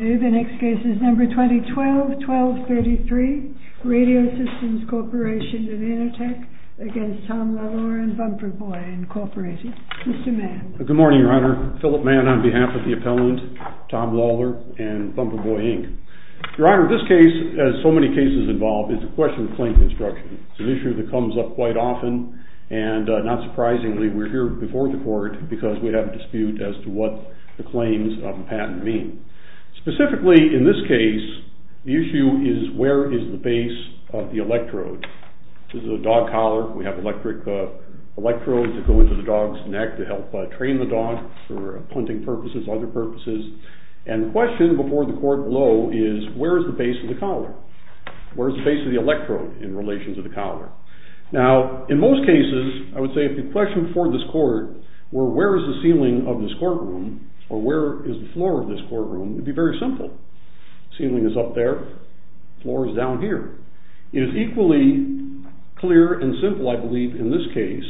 2012-12-33 RADIO SYSTEMS CORP v. ANATEC v. TOM LALOR v. BUMPERBOY Specifically, in this case, the issue is where is the base of the electrode. This is a dog collar. We have electric electrodes that go into the dog's neck to help train the dog for hunting purposes, other purposes. And the question before the court below is where is the base of the collar? Where is the base of the electrode in relation to the collar? Now, in most cases, I would say if the question before this court were where is the ceiling of this courtroom, or where is the floor of this courtroom, it would be very simple. The ceiling is up there, the floor is down here. It is equally clear and simple, I believe, in this case,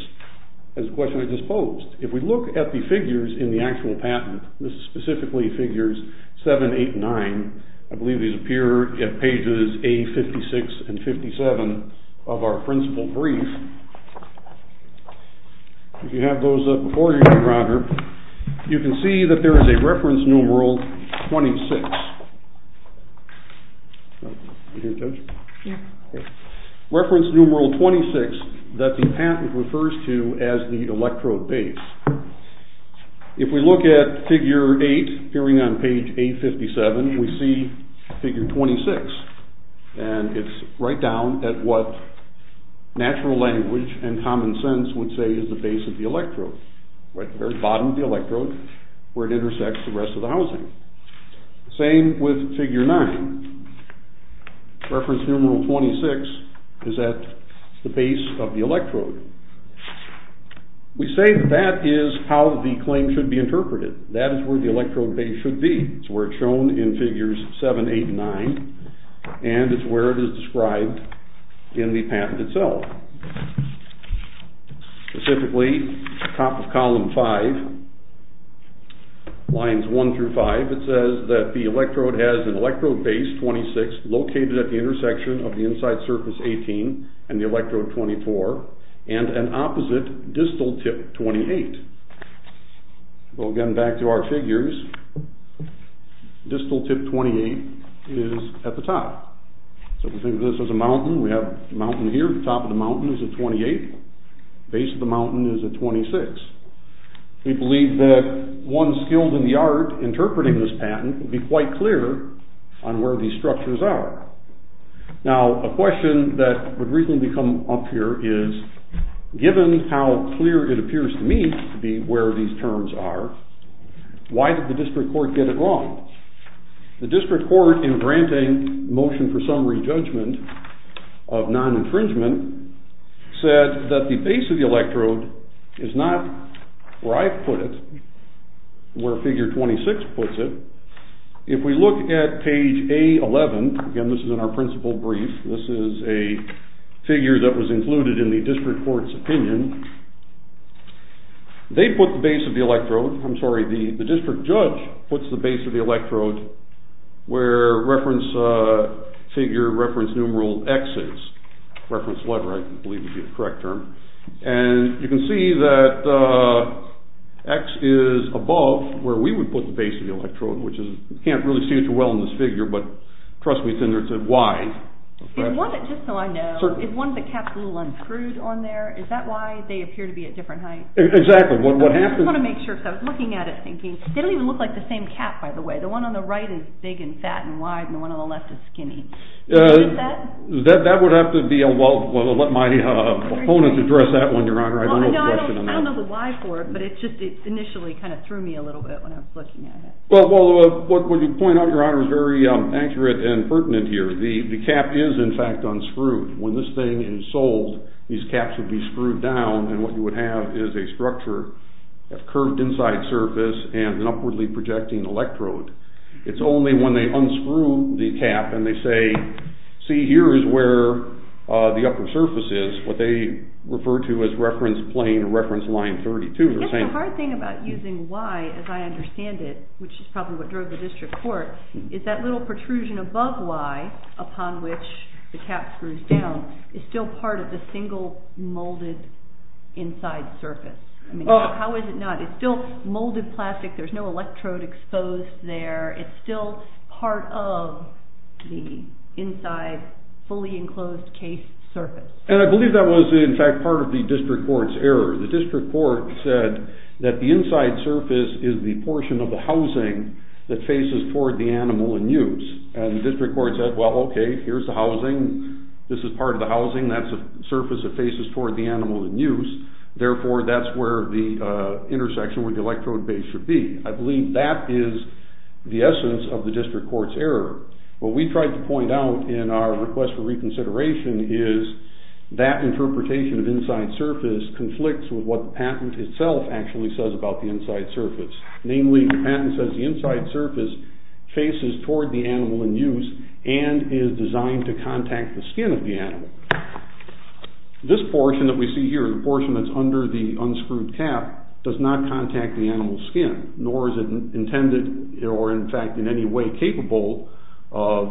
as the question I just posed. If we look at the figures in the actual patent, this is specifically figures 7, 8, and 9. I believe these appear at pages A56 and 57 of our principal brief. If you have those up before you, Your Honor, you can see that there is a reference numeral 26. You hear it, Judge? Yeah. Reference numeral 26 that the patent refers to as the electrode base. If we look at figure 8, appearing on page A57, we see figure 26. And it's right down at what natural language and common sense would say is the base of the electrode. Right at the very bottom of the electrode, where it intersects the rest of the housing. Same with figure 9. Reference numeral 26 is at the base of the electrode. We say that that is how the claim should be interpreted. That is where the electrode base should be. It's where it's shown in figures 7, 8, and 9, and it's where it is described in the patent itself. Specifically, top of column 5, lines 1 through 5, it says that the electrode has an electrode base, 26, located at the intersection of the inside surface, 18, and the electrode, 24, and an opposite distal tip, 28. Well, again, back to our figures. Distal tip, 28, is at the top. So we think of this as a mountain. We have a mountain here. Top of the mountain is at 28. Base of the mountain is at 26. We believe that one skilled in the art interpreting this patent would be quite clear on where these structures are. Now, a question that would reasonably come up here is, given how clear it appears to me to be where these terms are, why did the district court get it wrong? The district court, in granting motion for summary judgment of non-infringement, said that the base of the electrode is not where I put it, where figure 26 puts it. If we look at page A11, again, this is in our principal brief, this is a figure that was included in the district court's opinion, they put the base of the electrode, I'm sorry, the district judge puts the base of the electrode where reference figure, reference numeral X is. Reference letter, I believe, would be the correct term. And you can see that X is above where we would put the base of the electrode, which is, you can't really see it too well in this figure, but trust me, it's in there, it's at Y. Just so I know, is one of the caps a little unscrewed on there? Is that why they appear to be at different heights? Exactly. I just want to make sure, because I was looking at it thinking, they don't even look like the same cap, by the way. The one on the right is big and fat and wide, and the one on the left is skinny. Is that? That would have to be, well, let my opponents address that one, Your Honor. I don't know the question on that. I don't know the why for it, but it just initially kind of threw me a little bit when I was looking at it. Well, what you point out, Your Honor, is very accurate and pertinent here. The cap is, in fact, unscrewed. When this thing is sold, these caps would be screwed down, and what you would have is a structure of curved inside surface and an upwardly projecting electrode. It's only when they unscrew the cap and they say, see, here is where the upper surface is, what they refer to as reference plane, reference line 32. I guess the hard thing about using Y, as I understand it, which is probably what drove the district court, is that little protrusion above Y, upon which the cap screws down, is still part of the single molded inside surface. How is it not? It's still molded plastic. There's no electrode exposed there. It's still part of the inside fully enclosed case surface. And I believe that was, in fact, part of the district court's error. The district court said that the inside surface is the portion of the housing that faces toward the animal in use. And the district court said, well, okay, here's the housing. This is part of the housing. That's a surface that faces toward the animal in use. Therefore, that's where the intersection, where the electrode base should be. I believe that is the essence of the district court's error. What we tried to point out in our request for reconsideration is that interpretation of inside surface conflicts with what the patent itself actually says about the inside surface. Namely, the patent says the inside surface faces toward the animal in use and is designed to contact the skin of the animal. This portion that we see here, the portion that's under the unscrewed cap, does not contact the animal's skin, nor is it intended, or in fact, in any way capable of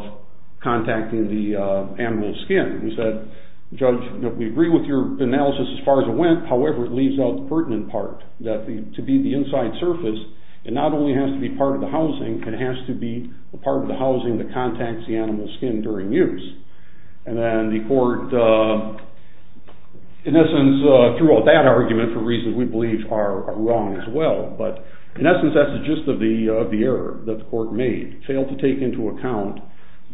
contacting the animal's skin. We said, Judge, we agree with your analysis as far as it went. However, it leaves out the pertinent part, that to be the inside surface, it not only has to be part of the housing, it has to be a part of the housing that contacts the animal's skin during use. And then the court, in essence, threw out that argument for reasons we believe are wrong as well. But in essence, that's the gist of the error that the court made. It failed to take into account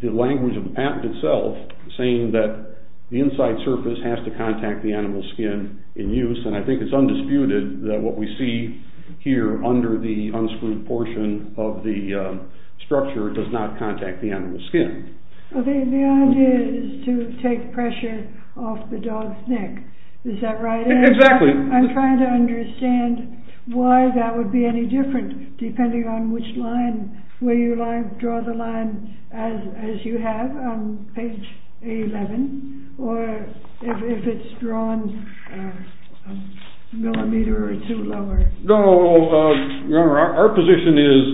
the language of the patent itself, saying that the inside surface has to contact the animal's skin in use. And I think it's undisputed that what we see here under the unscrewed portion of the structure does not contact the animal's skin. The idea is to take pressure off the dog's neck. Is that right? Exactly. I'm trying to understand why that would be any different depending on which line, where you draw the line, as you have on page 11, or if it's drawn a millimeter or two lower. No, Your Honor, our position is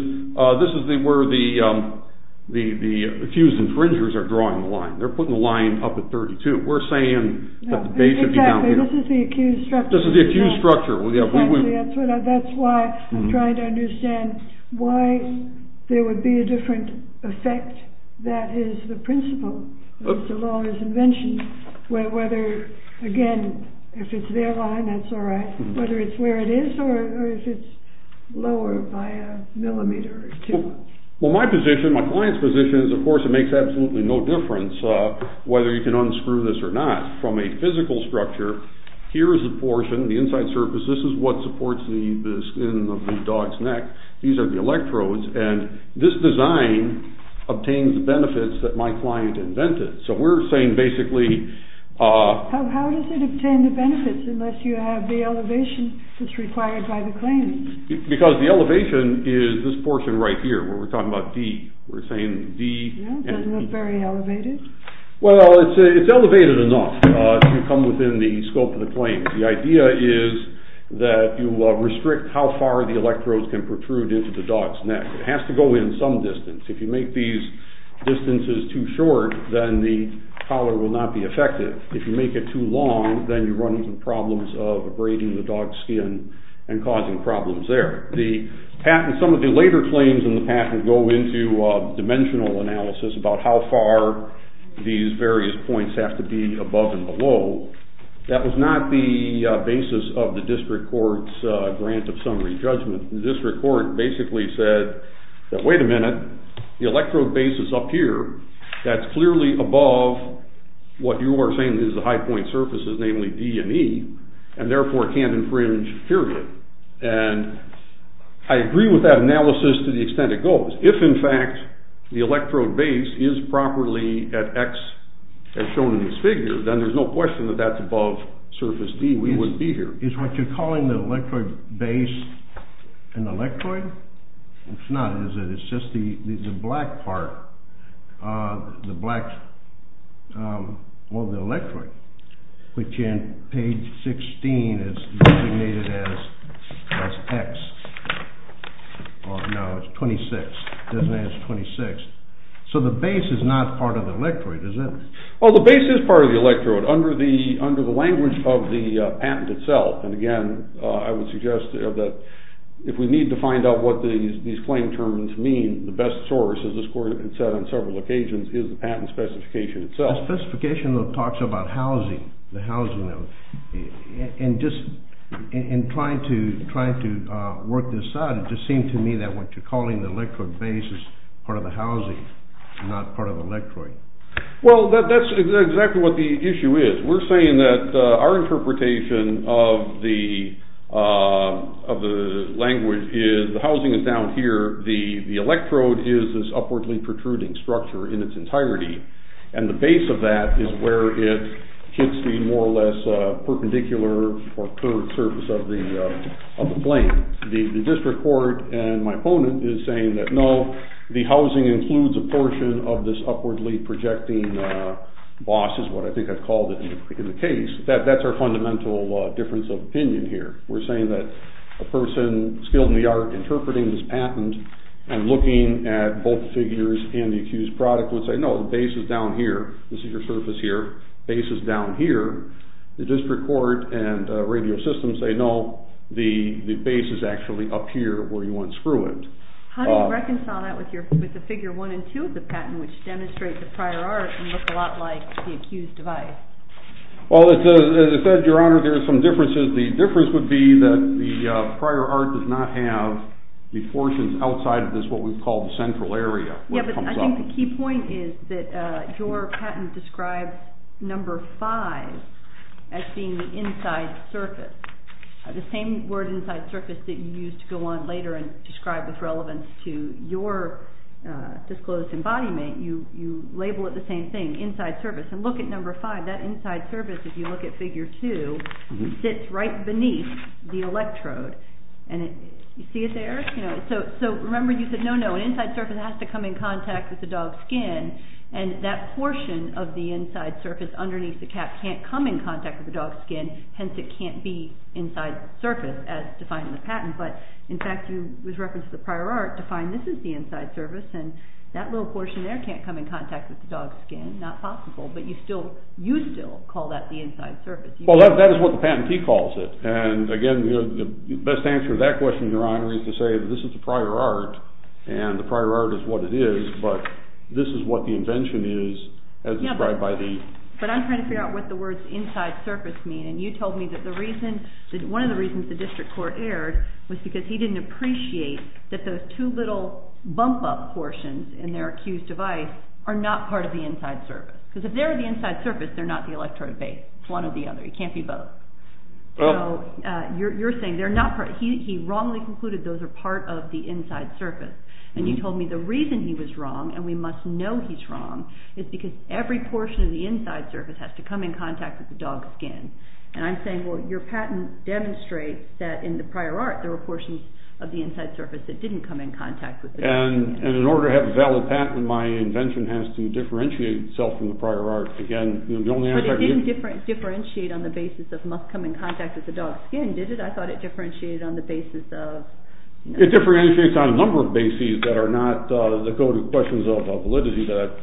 this is where the accused infringers are drawing the line. They're putting the line up at 32. We're saying that they should be down here. Exactly, this is the accused structure. This is the accused structure. Exactly, that's why I'm trying to understand why there would be a different effect. That is the principle. The law is invention. Whether, again, if it's their line, that's all right. Whether it's where it is or if it's lower by a millimeter or two. Well, my position, my client's position, is of course it makes absolutely no difference whether you can unscrew this or not. From a physical structure, here is the portion, the inside surface. This is what supports the skin of the dog's neck. These are the electrodes, and this design obtains the benefits that my client invented. So we're saying basically... How does it obtain the benefits unless you have the elevation that's required by the claims? Because the elevation is this portion right here, where we're talking about D. We're saying D... That doesn't look very elevated. Well, it's elevated enough to come within the scope of the claims. The idea is that you restrict how far the electrodes can protrude into the dog's neck. It has to go in some distance. If you make these distances too short, then the collar will not be effective. If you make it too long, then you run into problems of abrading the dog's skin and causing problems there. Some of the later claims in the patent go into dimensional analysis about how far these various points have to be above and below. That was not the basis of the district court's grant of summary judgment. The district court basically said that, wait a minute, the electrode base is up here. That's clearly above what you are saying is the high-point surfaces, namely D and E, and therefore can't infringe, period. And I agree with that analysis to the extent it goes. If, in fact, the electrode base is properly at X, as shown in this figure, then there's no question that that's above surface D. We wouldn't be here. Is what you're calling the electrode base an electrode? It's not, is it? It's just the black part of the electrode, which in page 16 is designated as X. No, it's 26. It doesn't say it's 26. So the base is not part of the electrode, is it? Well, the base is part of the electrode under the language of the patent itself. And again, I would suggest that if we need to find out what these claim terms mean, the best source, as this court has said on several occasions, is the patent specification itself. The specification talks about housing, the housing. In trying to work this out, it just seemed to me that what you're calling the electrode base is part of the housing, not part of the electrode. Well, that's exactly what the issue is. We're saying that our interpretation of the language is the housing is down here, the electrode is this upwardly protruding structure in its entirety, and the base of that is where it hits the more or less perpendicular or curved surface of the plane. The district court and my opponent is saying that, even though the housing includes a portion of this upwardly projecting boss, is what I think I've called it in the case, that's our fundamental difference of opinion here. We're saying that a person skilled in the art interpreting this patent and looking at both figures and the accused product would say, no, the base is down here, this is your surface here, base is down here. The district court and radio system say, no, the base is actually up here where you want to screw it. How do you reconcile that with the figure one and two of the patent, which demonstrate the prior art and look a lot like the accused device? Well, as I said, Your Honor, there are some differences. The difference would be that the prior art does not have the portions outside of this, what we call the central area. Yeah, but I think the key point is that your patent describes number five as being the inside surface, the same word inside surface that you used to go on later and describe with relevance to your disclosed embodiment. You label it the same thing, inside surface. And look at number five, that inside surface, if you look at figure two, sits right beneath the electrode. You see it there? So remember you said, no, no, an inside surface has to come in contact with the dog's skin, and that portion of the inside surface underneath the cap can't come in contact with the dog's skin, hence it can't be inside surface as defined in the patent. But, in fact, you, with reference to the prior art, define this as the inside surface, and that little portion there can't come in contact with the dog's skin, not possible. But you still call that the inside surface. Well, that is what the patentee calls it. And again, the best answer to that question, Your Honor, is to say that this is the prior art, and the prior art is what it is, but this is what the invention is as described by the... But I'm trying to figure out what the words inside surface mean, and you told me that one of the reasons the district court erred was because he didn't appreciate that those two little bump-up portions in their accused device are not part of the inside surface. Because if they're the inside surface, they're not the electrode base. It's one or the other. It can't be both. So you're saying they're not part... He wrongly concluded those are part of the inside surface. And you told me the reason he was wrong, and we must know he's wrong, is because every portion of the inside surface has to come in contact with the dog's skin. And I'm saying, well, your patent demonstrates that in the prior art there were portions of the inside surface that didn't come in contact with the dog's skin. And in order to have a valid patent, my invention has to differentiate itself from the prior art. But it didn't differentiate on the basis of must come in contact with the dog's skin, did it? I thought it differentiated on the basis of... It differentiates on a number of bases that go to questions of validity that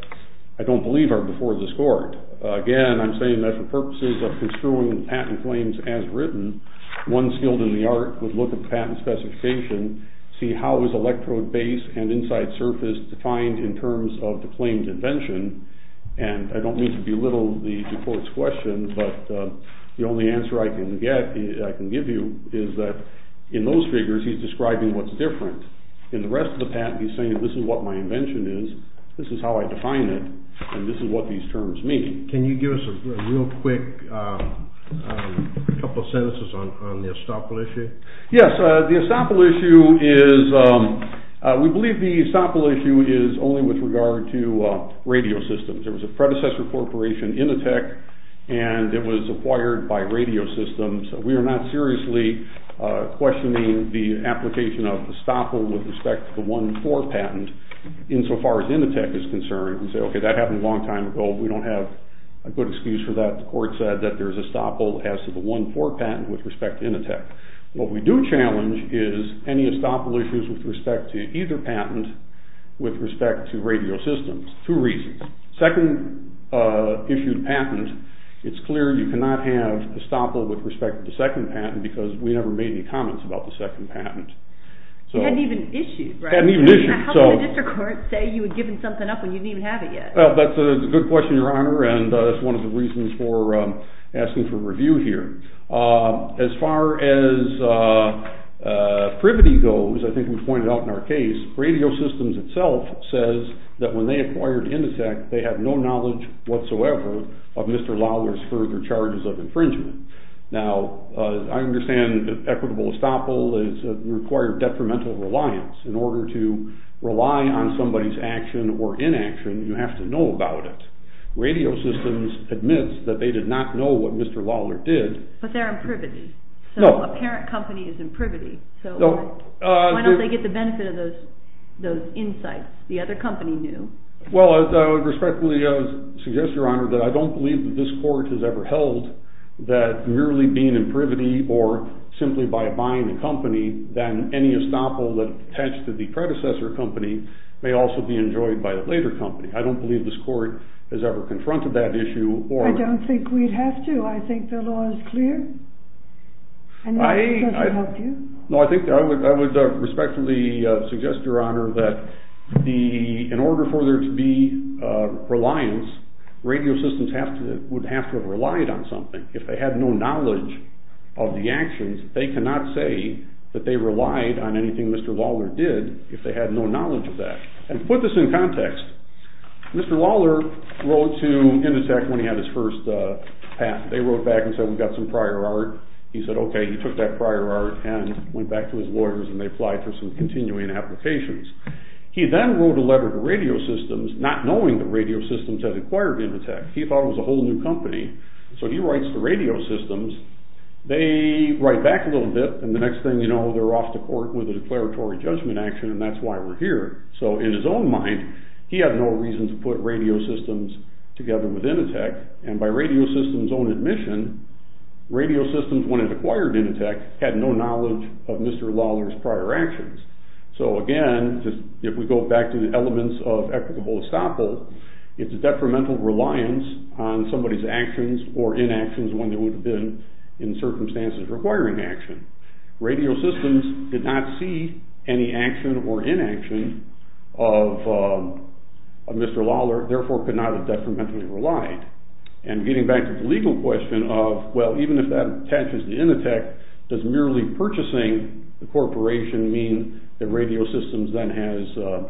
I don't believe are before the court. Again, I'm saying that for purposes of construing the patent claims as written, one skilled in the art would look at the patent specification, see how is electrode base and inside surface defined in terms of the claimed invention. And I don't mean to belittle the court's question, but the only answer I can give you is that in those figures he's describing what's different. In the rest of the patent, he's saying this is what my invention is, this is how I define it, and this is what these terms mean. Can you give us a real quick couple sentences on the estoppel issue? Yes, the estoppel issue is... We believe the estoppel issue is only with regard to radio systems. There was a predecessor corporation, Initech, and it was acquired by radio systems. We are not seriously questioning the application of estoppel with respect to the 1.4 patent insofar as Initech is concerned. You can say, okay, that happened a long time ago. We don't have a good excuse for that. The court said that there's estoppel as to the 1.4 patent with respect to Initech. What we do challenge is any estoppel issues with respect to either patent with respect to radio systems. Two reasons. Second issued patent, it's clear you cannot have estoppel with respect to the second patent because we never made any comments about the second patent. You hadn't even issued, right? Hadn't even issued. How can a district court say you had given something up when you didn't even have it yet? That's a good question, Your Honor, and that's one of the reasons for asking for review here. As far as privity goes, I think we pointed out in our case, radio systems itself says that when they acquired Initech, they had no knowledge whatsoever of Mr. Lawler's further charges of infringement. Now, I understand that equitable estoppel requires greater detrimental reliance. In order to rely on somebody's action or inaction, you have to know about it. Radio systems admits that they did not know what Mr. Lawler did. But they're in privity. So a parent company is in privity. So why don't they get the benefit of those insights the other company knew? Well, I would respectfully suggest, Your Honor, that I don't believe that this court has ever held that merely being in privity or simply by buying a company than any estoppel attached to the predecessor company may also be enjoyed by a later company. I don't believe this court has ever confronted that issue. I don't think we'd have to. I think the law is clear. And I think that would help you. No, I would respectfully suggest, Your Honor, that in order for there to be reliance, radio systems would have to have relied on something. If they had no knowledge of the actions, they cannot say that they relied on anything Mr. Lawler did if they had no knowledge of that. And to put this in context, Mr. Lawler wrote to Inditech when he had his first patent. They wrote back and said, We've got some prior art. He said, Okay. He took that prior art and went back to his lawyers and they applied for some continuing applications. He then wrote a letter to radio systems not knowing that radio systems had acquired Inditech. He thought it was a whole new company. So he writes to radio systems. They write back a little bit. And the next thing you know, they're off to court with a declaratory judgment action, and that's why we're here. So in his own mind, he had no reason to put radio systems together with Inditech. And by radio systems' own admission, radio systems, when it acquired Inditech, had no knowledge of Mr. Lawler's prior actions. So again, if we go back to the elements of equitable estoppel, it's a detrimental reliance on somebody's actions or inactions when they would have been in circumstances requiring action. Radio systems did not see any action or inaction of Mr. Lawler, therefore could not have detrimentally relied. And getting back to the legal question of, well, even if that attaches to Inditech, does merely purchasing the corporation mean that radio systems then has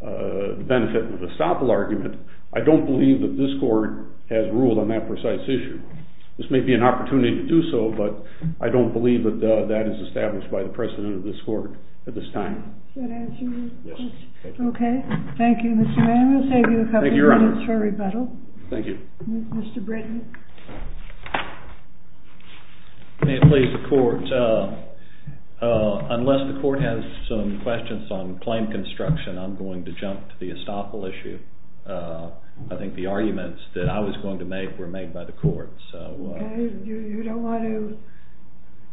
the benefit of estoppel argument? I don't believe that this court has ruled on that precise issue. This may be an opportunity to do so, but I don't believe that that is established by the president of this court at this time. Does that answer your question? Yes. Okay. Thank you, Mr. Mann. We'll save you a couple of minutes for rebuttal. Thank you, Your Honor. Thank you. Mr. Britton. May it please the court, unless the court has some questions on claim construction, I'm going to jump to the estoppel issue. I think the arguments that I was going to make were made by the court. Okay. You don't want to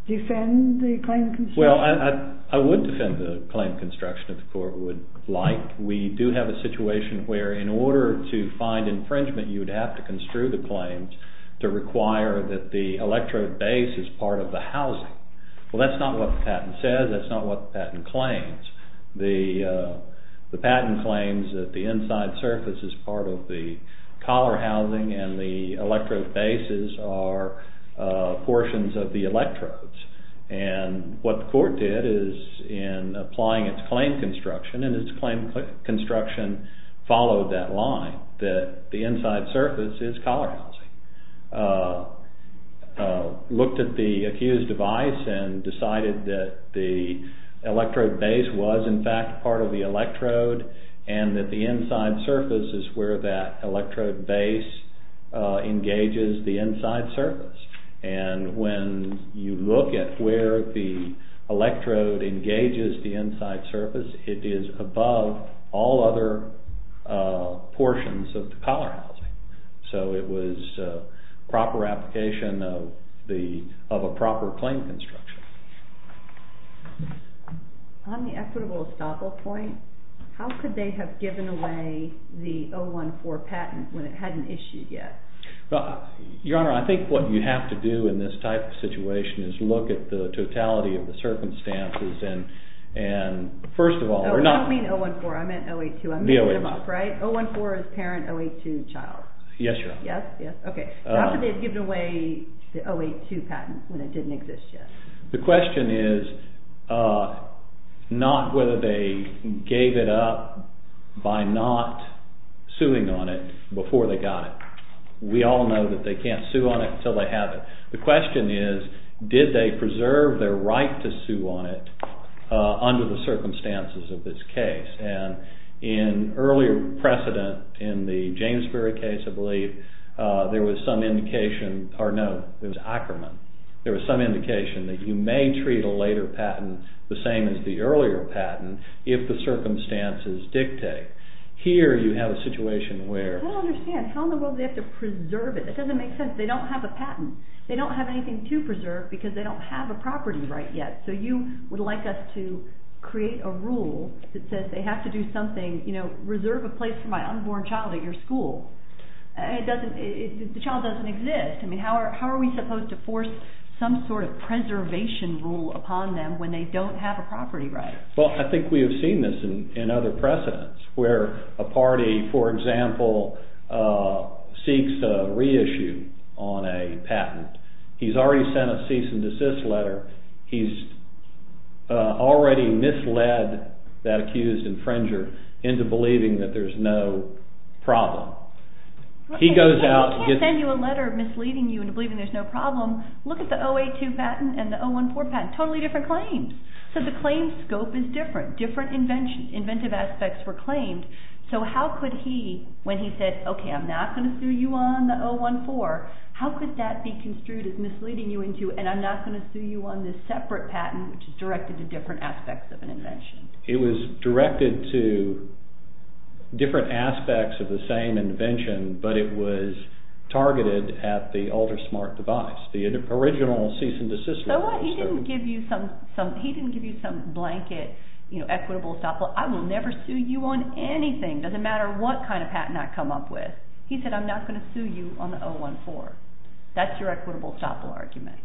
defend the claim construction? Well, I would defend the claim construction if the court would like. We do have a situation where in order to find infringement, you would have to construe the claims to require that the electrode base is part of the housing. Well, that's not what the patent says. That's not what the patent claims. The patent claims that the inside surface is part of the collar housing and the electrode bases are portions of the electrodes. And what the court did is in applying its claim construction, and its claim construction followed that line, that the inside surface is collar housing, looked at the accused device and decided that the electrode base was in fact part of the electrode and that the inside surface is where that electrode base engages the inside surface. And when you look at where the electrode engages the inside surface, it is above all other portions of the collar housing. So it was proper application of a proper claim construction. On the equitable estoppel point, how could they have given away the 014 patent when it hadn't issued yet? Your Honor, I think what you have to do in this type of situation is look at the totality of the circumstances and first of all... I don't mean 014, I meant 082. 014 is parent 082 child. Yes, Your Honor. How could they have given away the 082 patent when it didn't exist yet? The question is not whether they gave it up by not suing on it before they got it. We all know that they can't sue on it until they have it. The question is did they preserve their right to sue on it under the circumstances of this case. And in earlier precedent in the Jamesbury case, I believe, there was some indication... Or no, it was Ackerman. There was some indication that you may treat a later patent the same as the earlier patent if the circumstances dictate. Here you have a situation where... I don't understand. How in the world do they have to preserve it? It doesn't make sense. They don't have a patent. They don't have anything to preserve because they don't have a property right yet. So you would like us to create a rule that says they have to do something, you know, reserve a place for my unborn child at your school. The child doesn't exist. How are we supposed to force some sort of preservation rule upon them when they don't have a property right? Well, I think we have seen this in other precedents where a party, for example, seeks to reissue on a patent. He's already sent a cease and desist letter. He's already misled that accused infringer into believing that there's no problem. If he can't send you a letter misleading you into believing there's no problem, look at the 082 patent and the 014 patent. Totally different claims. So the claims scope is different. Different inventive aspects were claimed. So how could he, when he said, okay, I'm not going to sue you on the 014, how could that be construed as misleading you into and I'm not going to sue you on this separate patent which is directed to different aspects of an invention? It was directed to different aspects of the same invention, but it was targeted at the UltraSmart device, the original cease and desist letter. So what, he didn't give you some blanket, you know, equitable estoppel. I will never sue you on anything, doesn't matter what kind of patent I come up with. He said, I'm not going to sue you on the 014. That's your equitable estoppel argument.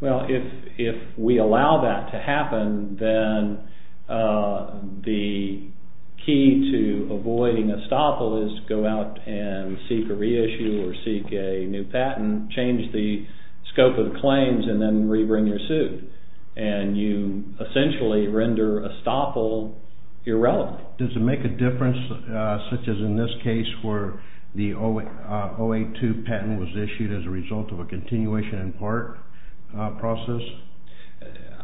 Well, if we allow that to happen, then the key to avoiding estoppel is go out and seek a reissue or seek a new patent, change the scope of the claims, and then rebring your suit. And you essentially render estoppel irrelevant. Does it make a difference, such as in this case, where the 082 patent was issued as a result of a continuation in part process?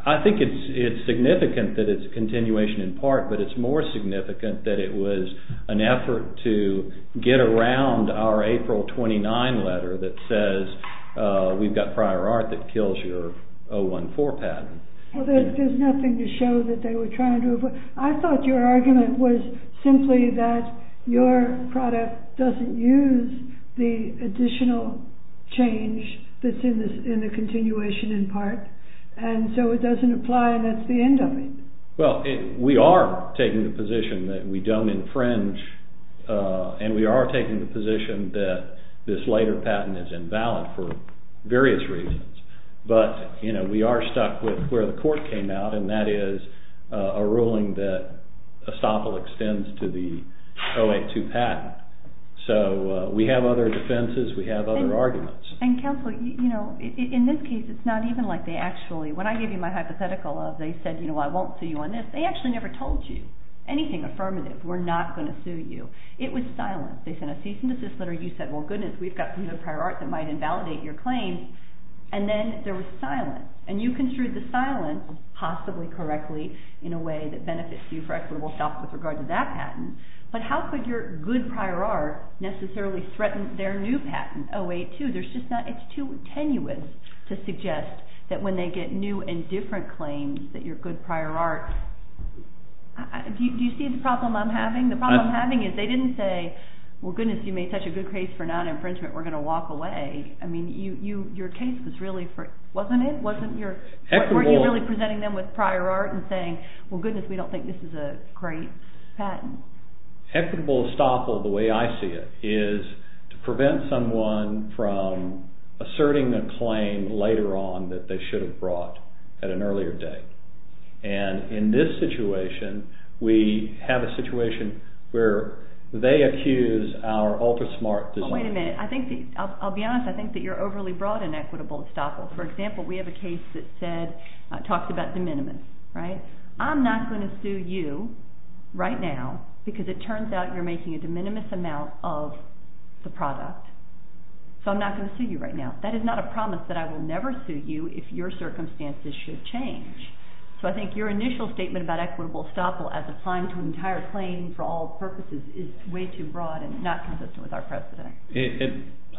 I think it's significant that it's a continuation in part, but it's more significant that it was an effort to get around our April 29 letter that says we've got prior art that kills your 014 patent. Well, there's nothing to show that they were trying to avoid. I thought your argument was simply that your product doesn't use the additional change that's in the continuation in part, and so it doesn't apply, and that's the end of it. Well, we are taking the position that we don't infringe, and we are taking the position that this later patent is invalid for various reasons. But, you know, we are stuck with where the court came out, and that is a ruling that estoppel extends to the 082 patent. So we have other defenses. We have other arguments. And, counsel, you know, in this case, it's not even like they actually— when I gave you my hypothetical of they said, you know, I won't sue you on this, they actually never told you anything affirmative. We're not going to sue you. It was silence. They sent a cease and desist letter. You said, well, goodness, we've got some prior art that might invalidate your claim. And then there was silence. And you construed the silence, possibly correctly, in a way that benefits you for equitable self with regard to that patent. But how could your good prior art necessarily threaten their new patent, 082? There's just not—it's too tenuous to suggest that when they get new and different claims that your good prior art—do you see the problem I'm having? The problem I'm having is they didn't say, well, goodness, you made such a good case for non-infringement, we're going to walk away. I mean, your case was really—wasn't it? Weren't you really presenting them with prior art and saying, well, goodness, we don't think this is a great patent? Equitable estoppel, the way I see it, is to prevent someone from asserting a claim later on that they should have brought at an earlier date. And in this situation, we have a situation where they accuse our ultra-smart design. But wait a minute. I think—I'll be honest. I think that you're overly broad in equitable estoppel. For example, we have a case that said—talks about de minimis, right? I'm not going to sue you right now because it turns out you're making a de minimis amount of the product. So I'm not going to sue you right now. That is not a promise that I will never sue you if your circumstances should change. So I think your initial statement about equitable estoppel as applying to an entire claim for all purposes is way too broad and not consistent with our precedent.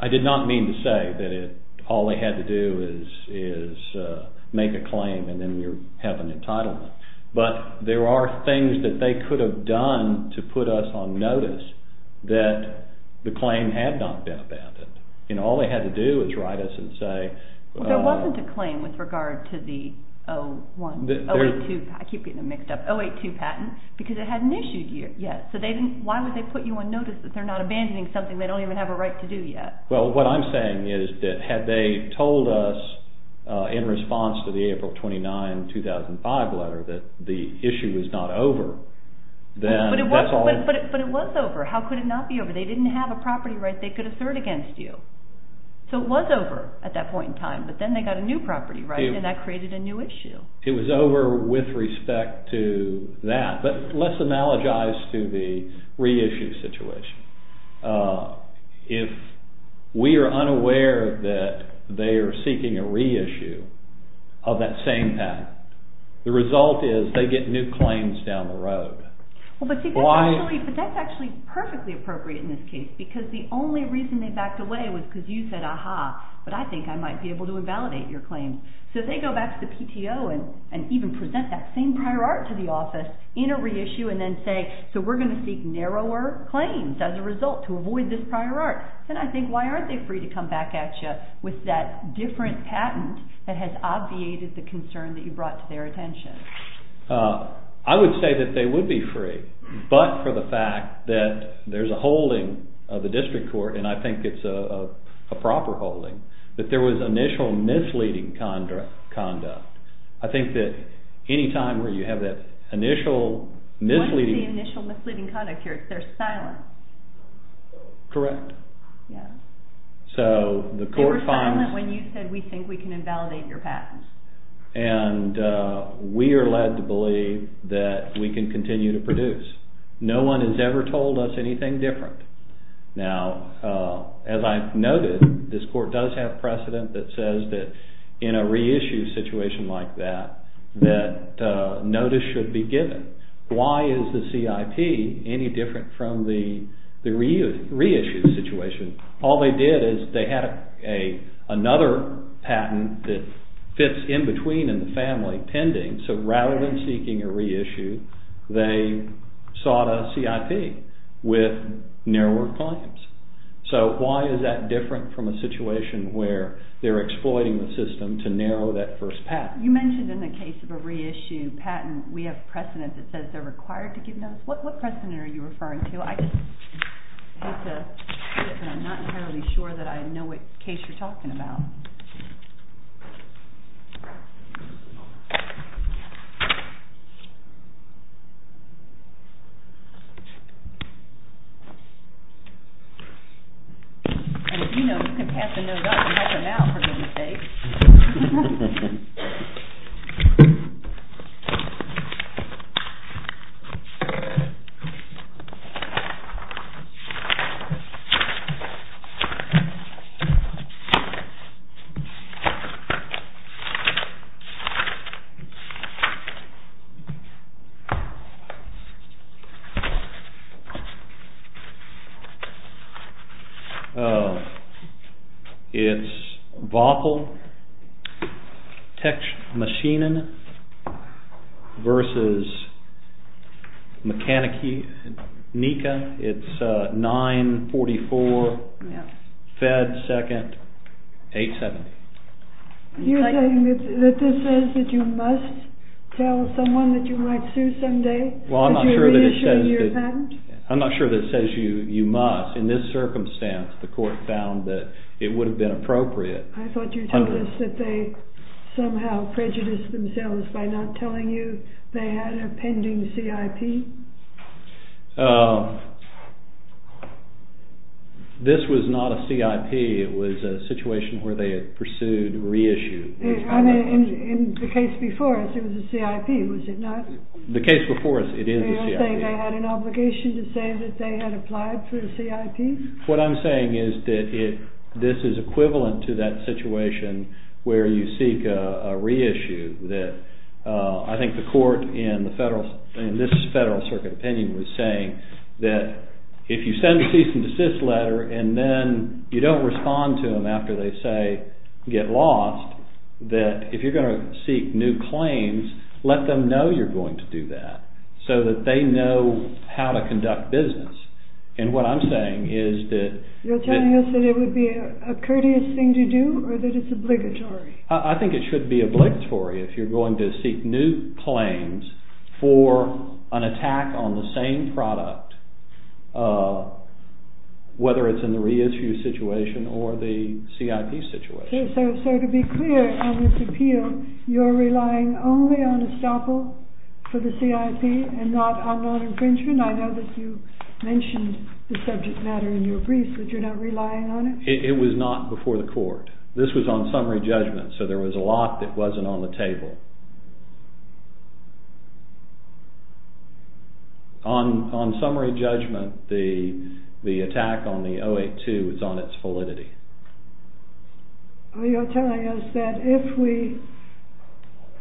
I did not mean to say that all they had to do is make a claim and then you have an entitlement. But there are things that they could have done to put us on notice that the claim had not been abandoned. All they had to do was write us and say— There wasn't a claim with regard to the 082—I keep getting them mixed up—082 patent because it hadn't issued yet. So why would they put you on notice that they're not abandoning something they don't even have a right to do yet? Well, what I'm saying is that had they told us in response to the April 29, 2005 letter that the issue was not over, then— But it was over. How could it not be over? They didn't have a property right they could assert against you. So it was over at that point in time, but then they got a new property right and that created a new issue. It was over with respect to that. But let's analogize to the reissue situation. If we are unaware that they are seeking a reissue of that same patent, the result is they get new claims down the road. But that's actually perfectly appropriate in this case because the only reason they backed away was because you said, aha, but I think I might be able to invalidate your claim. So they go back to the PTO and even present that same prior art to the office in a reissue and then say, so we're going to seek narrower claims as a result to avoid this prior art. Then I think why aren't they free to come back at you with that different patent that has obviated the concern that you brought to their attention? I would say that they would be free, but for the fact that there's a holding of the district court, and I think it's a proper holding, that there was initial misleading conduct. I think that any time where you have that initial misleading... What is the initial misleading conduct here? It's their silence. Correct. They were silent when you said we think we can invalidate your patent. And we are led to believe that we can continue to produce. No one has ever told us anything different. Now, as I've noted, this court does have precedent that says that in a reissue situation like that, that notice should be given. Why is the CIP any different from the reissue situation? All they did is they had another patent that fits in between in the family pending, so rather than seeking a reissue, they sought a CIP with narrower claims. So why is that different from a situation where they're exploiting the system to narrow that first patent? You mentioned in the case of a reissue patent, we have precedent that says they're required to give notice. What precedent are you referring to? I'm not entirely sure that I know what case you're talking about. And if you know, you can pat the nose up and wipe your mouth, for goodness sake. It's Waffle, Tecsh Machinen versus Mechanica. It's 9-44-FED-2-870. You're saying that this says that you must tell someone that you might sue someday? Well, I'm not sure that it says you must. In this circumstance, the court found that it would have been appropriate. I thought you told us that they somehow prejudiced themselves by not telling you they had a pending CIP? This was not a CIP. It was a situation where they had pursued reissue. In the case before us, it was a CIP, was it not? The case before us, it is a CIP. Are you saying they had an obligation to say that they had applied for a CIP? What I'm saying is that this is equivalent to that situation where you seek a reissue. I think the court in this Federal Circuit opinion was saying that if you send a cease and desist letter and then you don't respond to them after they say get lost, that if you're going to seek new claims, let them know you're going to do that so that they know how to conduct business. And what I'm saying is that... You're telling us that it would be a courteous thing to do or that it's obligatory? I think it should be obligatory if you're going to seek new claims for an attack on the same product, whether it's in the reissue situation or the CIP situation. So to be clear on this appeal, you're relying only on estoppel for the CIP and not on non-infringement? I know that you mentioned the subject matter in your brief, but you're not relying on it? It was not before the court. This was on summary judgment, so there was a lot that wasn't on the table. On summary judgment, the attack on the 082 is on its validity? You're telling us that if we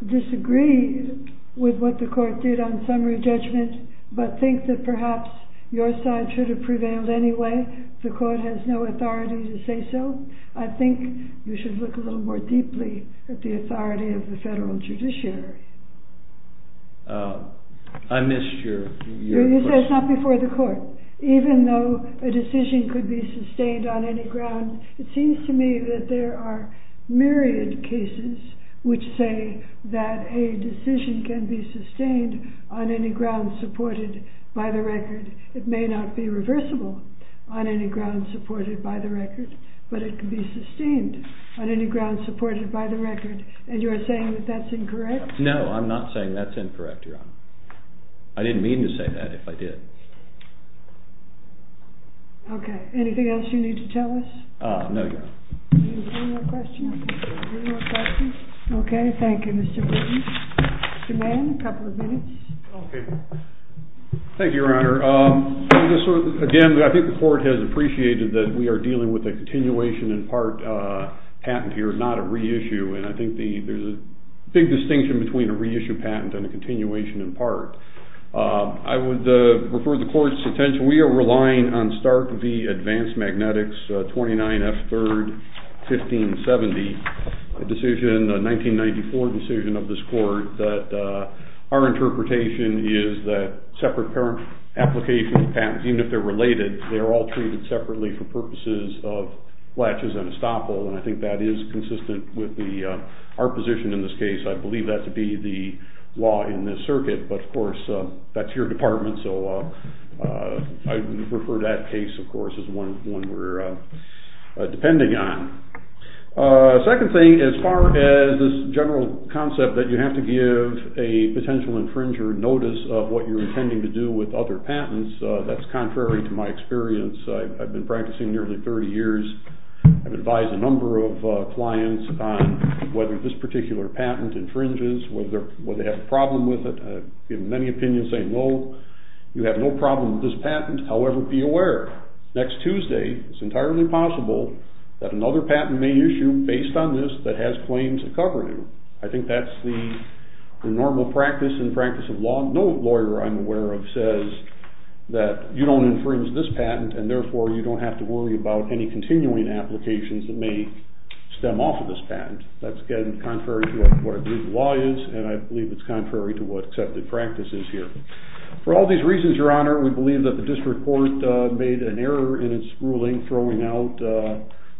disagree with what the court did on summary judgment but think that perhaps your side should have prevailed anyway, the court has no authority to say so? I think you should look a little more deeply at the authority of the Federal Judiciary. I missed your question. You said it's not before the court. Even though a decision could be sustained on any ground, it seems to me that there are myriad cases which say that a decision can be sustained on any ground supported by the record. It may not be reversible on any ground supported by the record, but it can be sustained on any ground supported by the record, and you're saying that that's incorrect? No, I'm not saying that's incorrect, Your Honor. I didn't mean to say that if I did. Okay, anything else you need to tell us? No, Your Honor. Any more questions? Okay, thank you, Mr. Britten. Mr. Mann, a couple of minutes. Okay. Thank you, Your Honor. Again, I think the court has appreciated that we are dealing with a continuation in part patent here, not a reissue, and I think there's a big distinction between a reissue patent and a continuation in part. I would refer the court's attention. We are relying on Stark v. Advanced Magnetics, 29 F. 3rd, 1570, a 1994 decision of this court that our interpretation is that separate application patents, even if they're related, they are all treated separately for purposes of fletches and estoppel, and I think that is consistent with our position in this case. I believe that to be the law in this circuit, but, of course, that's your department, so I would refer that case, of course, as one we're depending on. Second thing, as far as this general concept that you have to give a potential infringer notice of what you're intending to do with other patents, that's contrary to my experience. I've been practicing nearly 30 years. I've advised a number of clients on whether this particular patent infringes, whether they have a problem with it. I've given many opinions saying, no, you have no problem with this patent. However, be aware, next Tuesday, it's entirely possible that another patent may issue based on this that has claims of covering. I think that's the normal practice and practice of law. No lawyer I'm aware of says that you don't infringe this patent, and, therefore, you don't have to worry about any continuing applications that may stem off of this patent. That's, again, contrary to what I believe the law is, and I believe it's contrary to what accepted practice is here. For all these reasons, Your Honor, we believe that the district court made an error in its ruling throwing out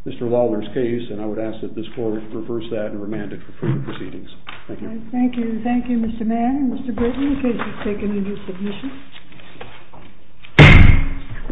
Mr. Lawler's case, and I would ask that this court reverse that and remand it for further proceedings. Thank you. Thank you. Thank you, Mr. Mann. Mr. Britton, the case is taken into submission. All rise.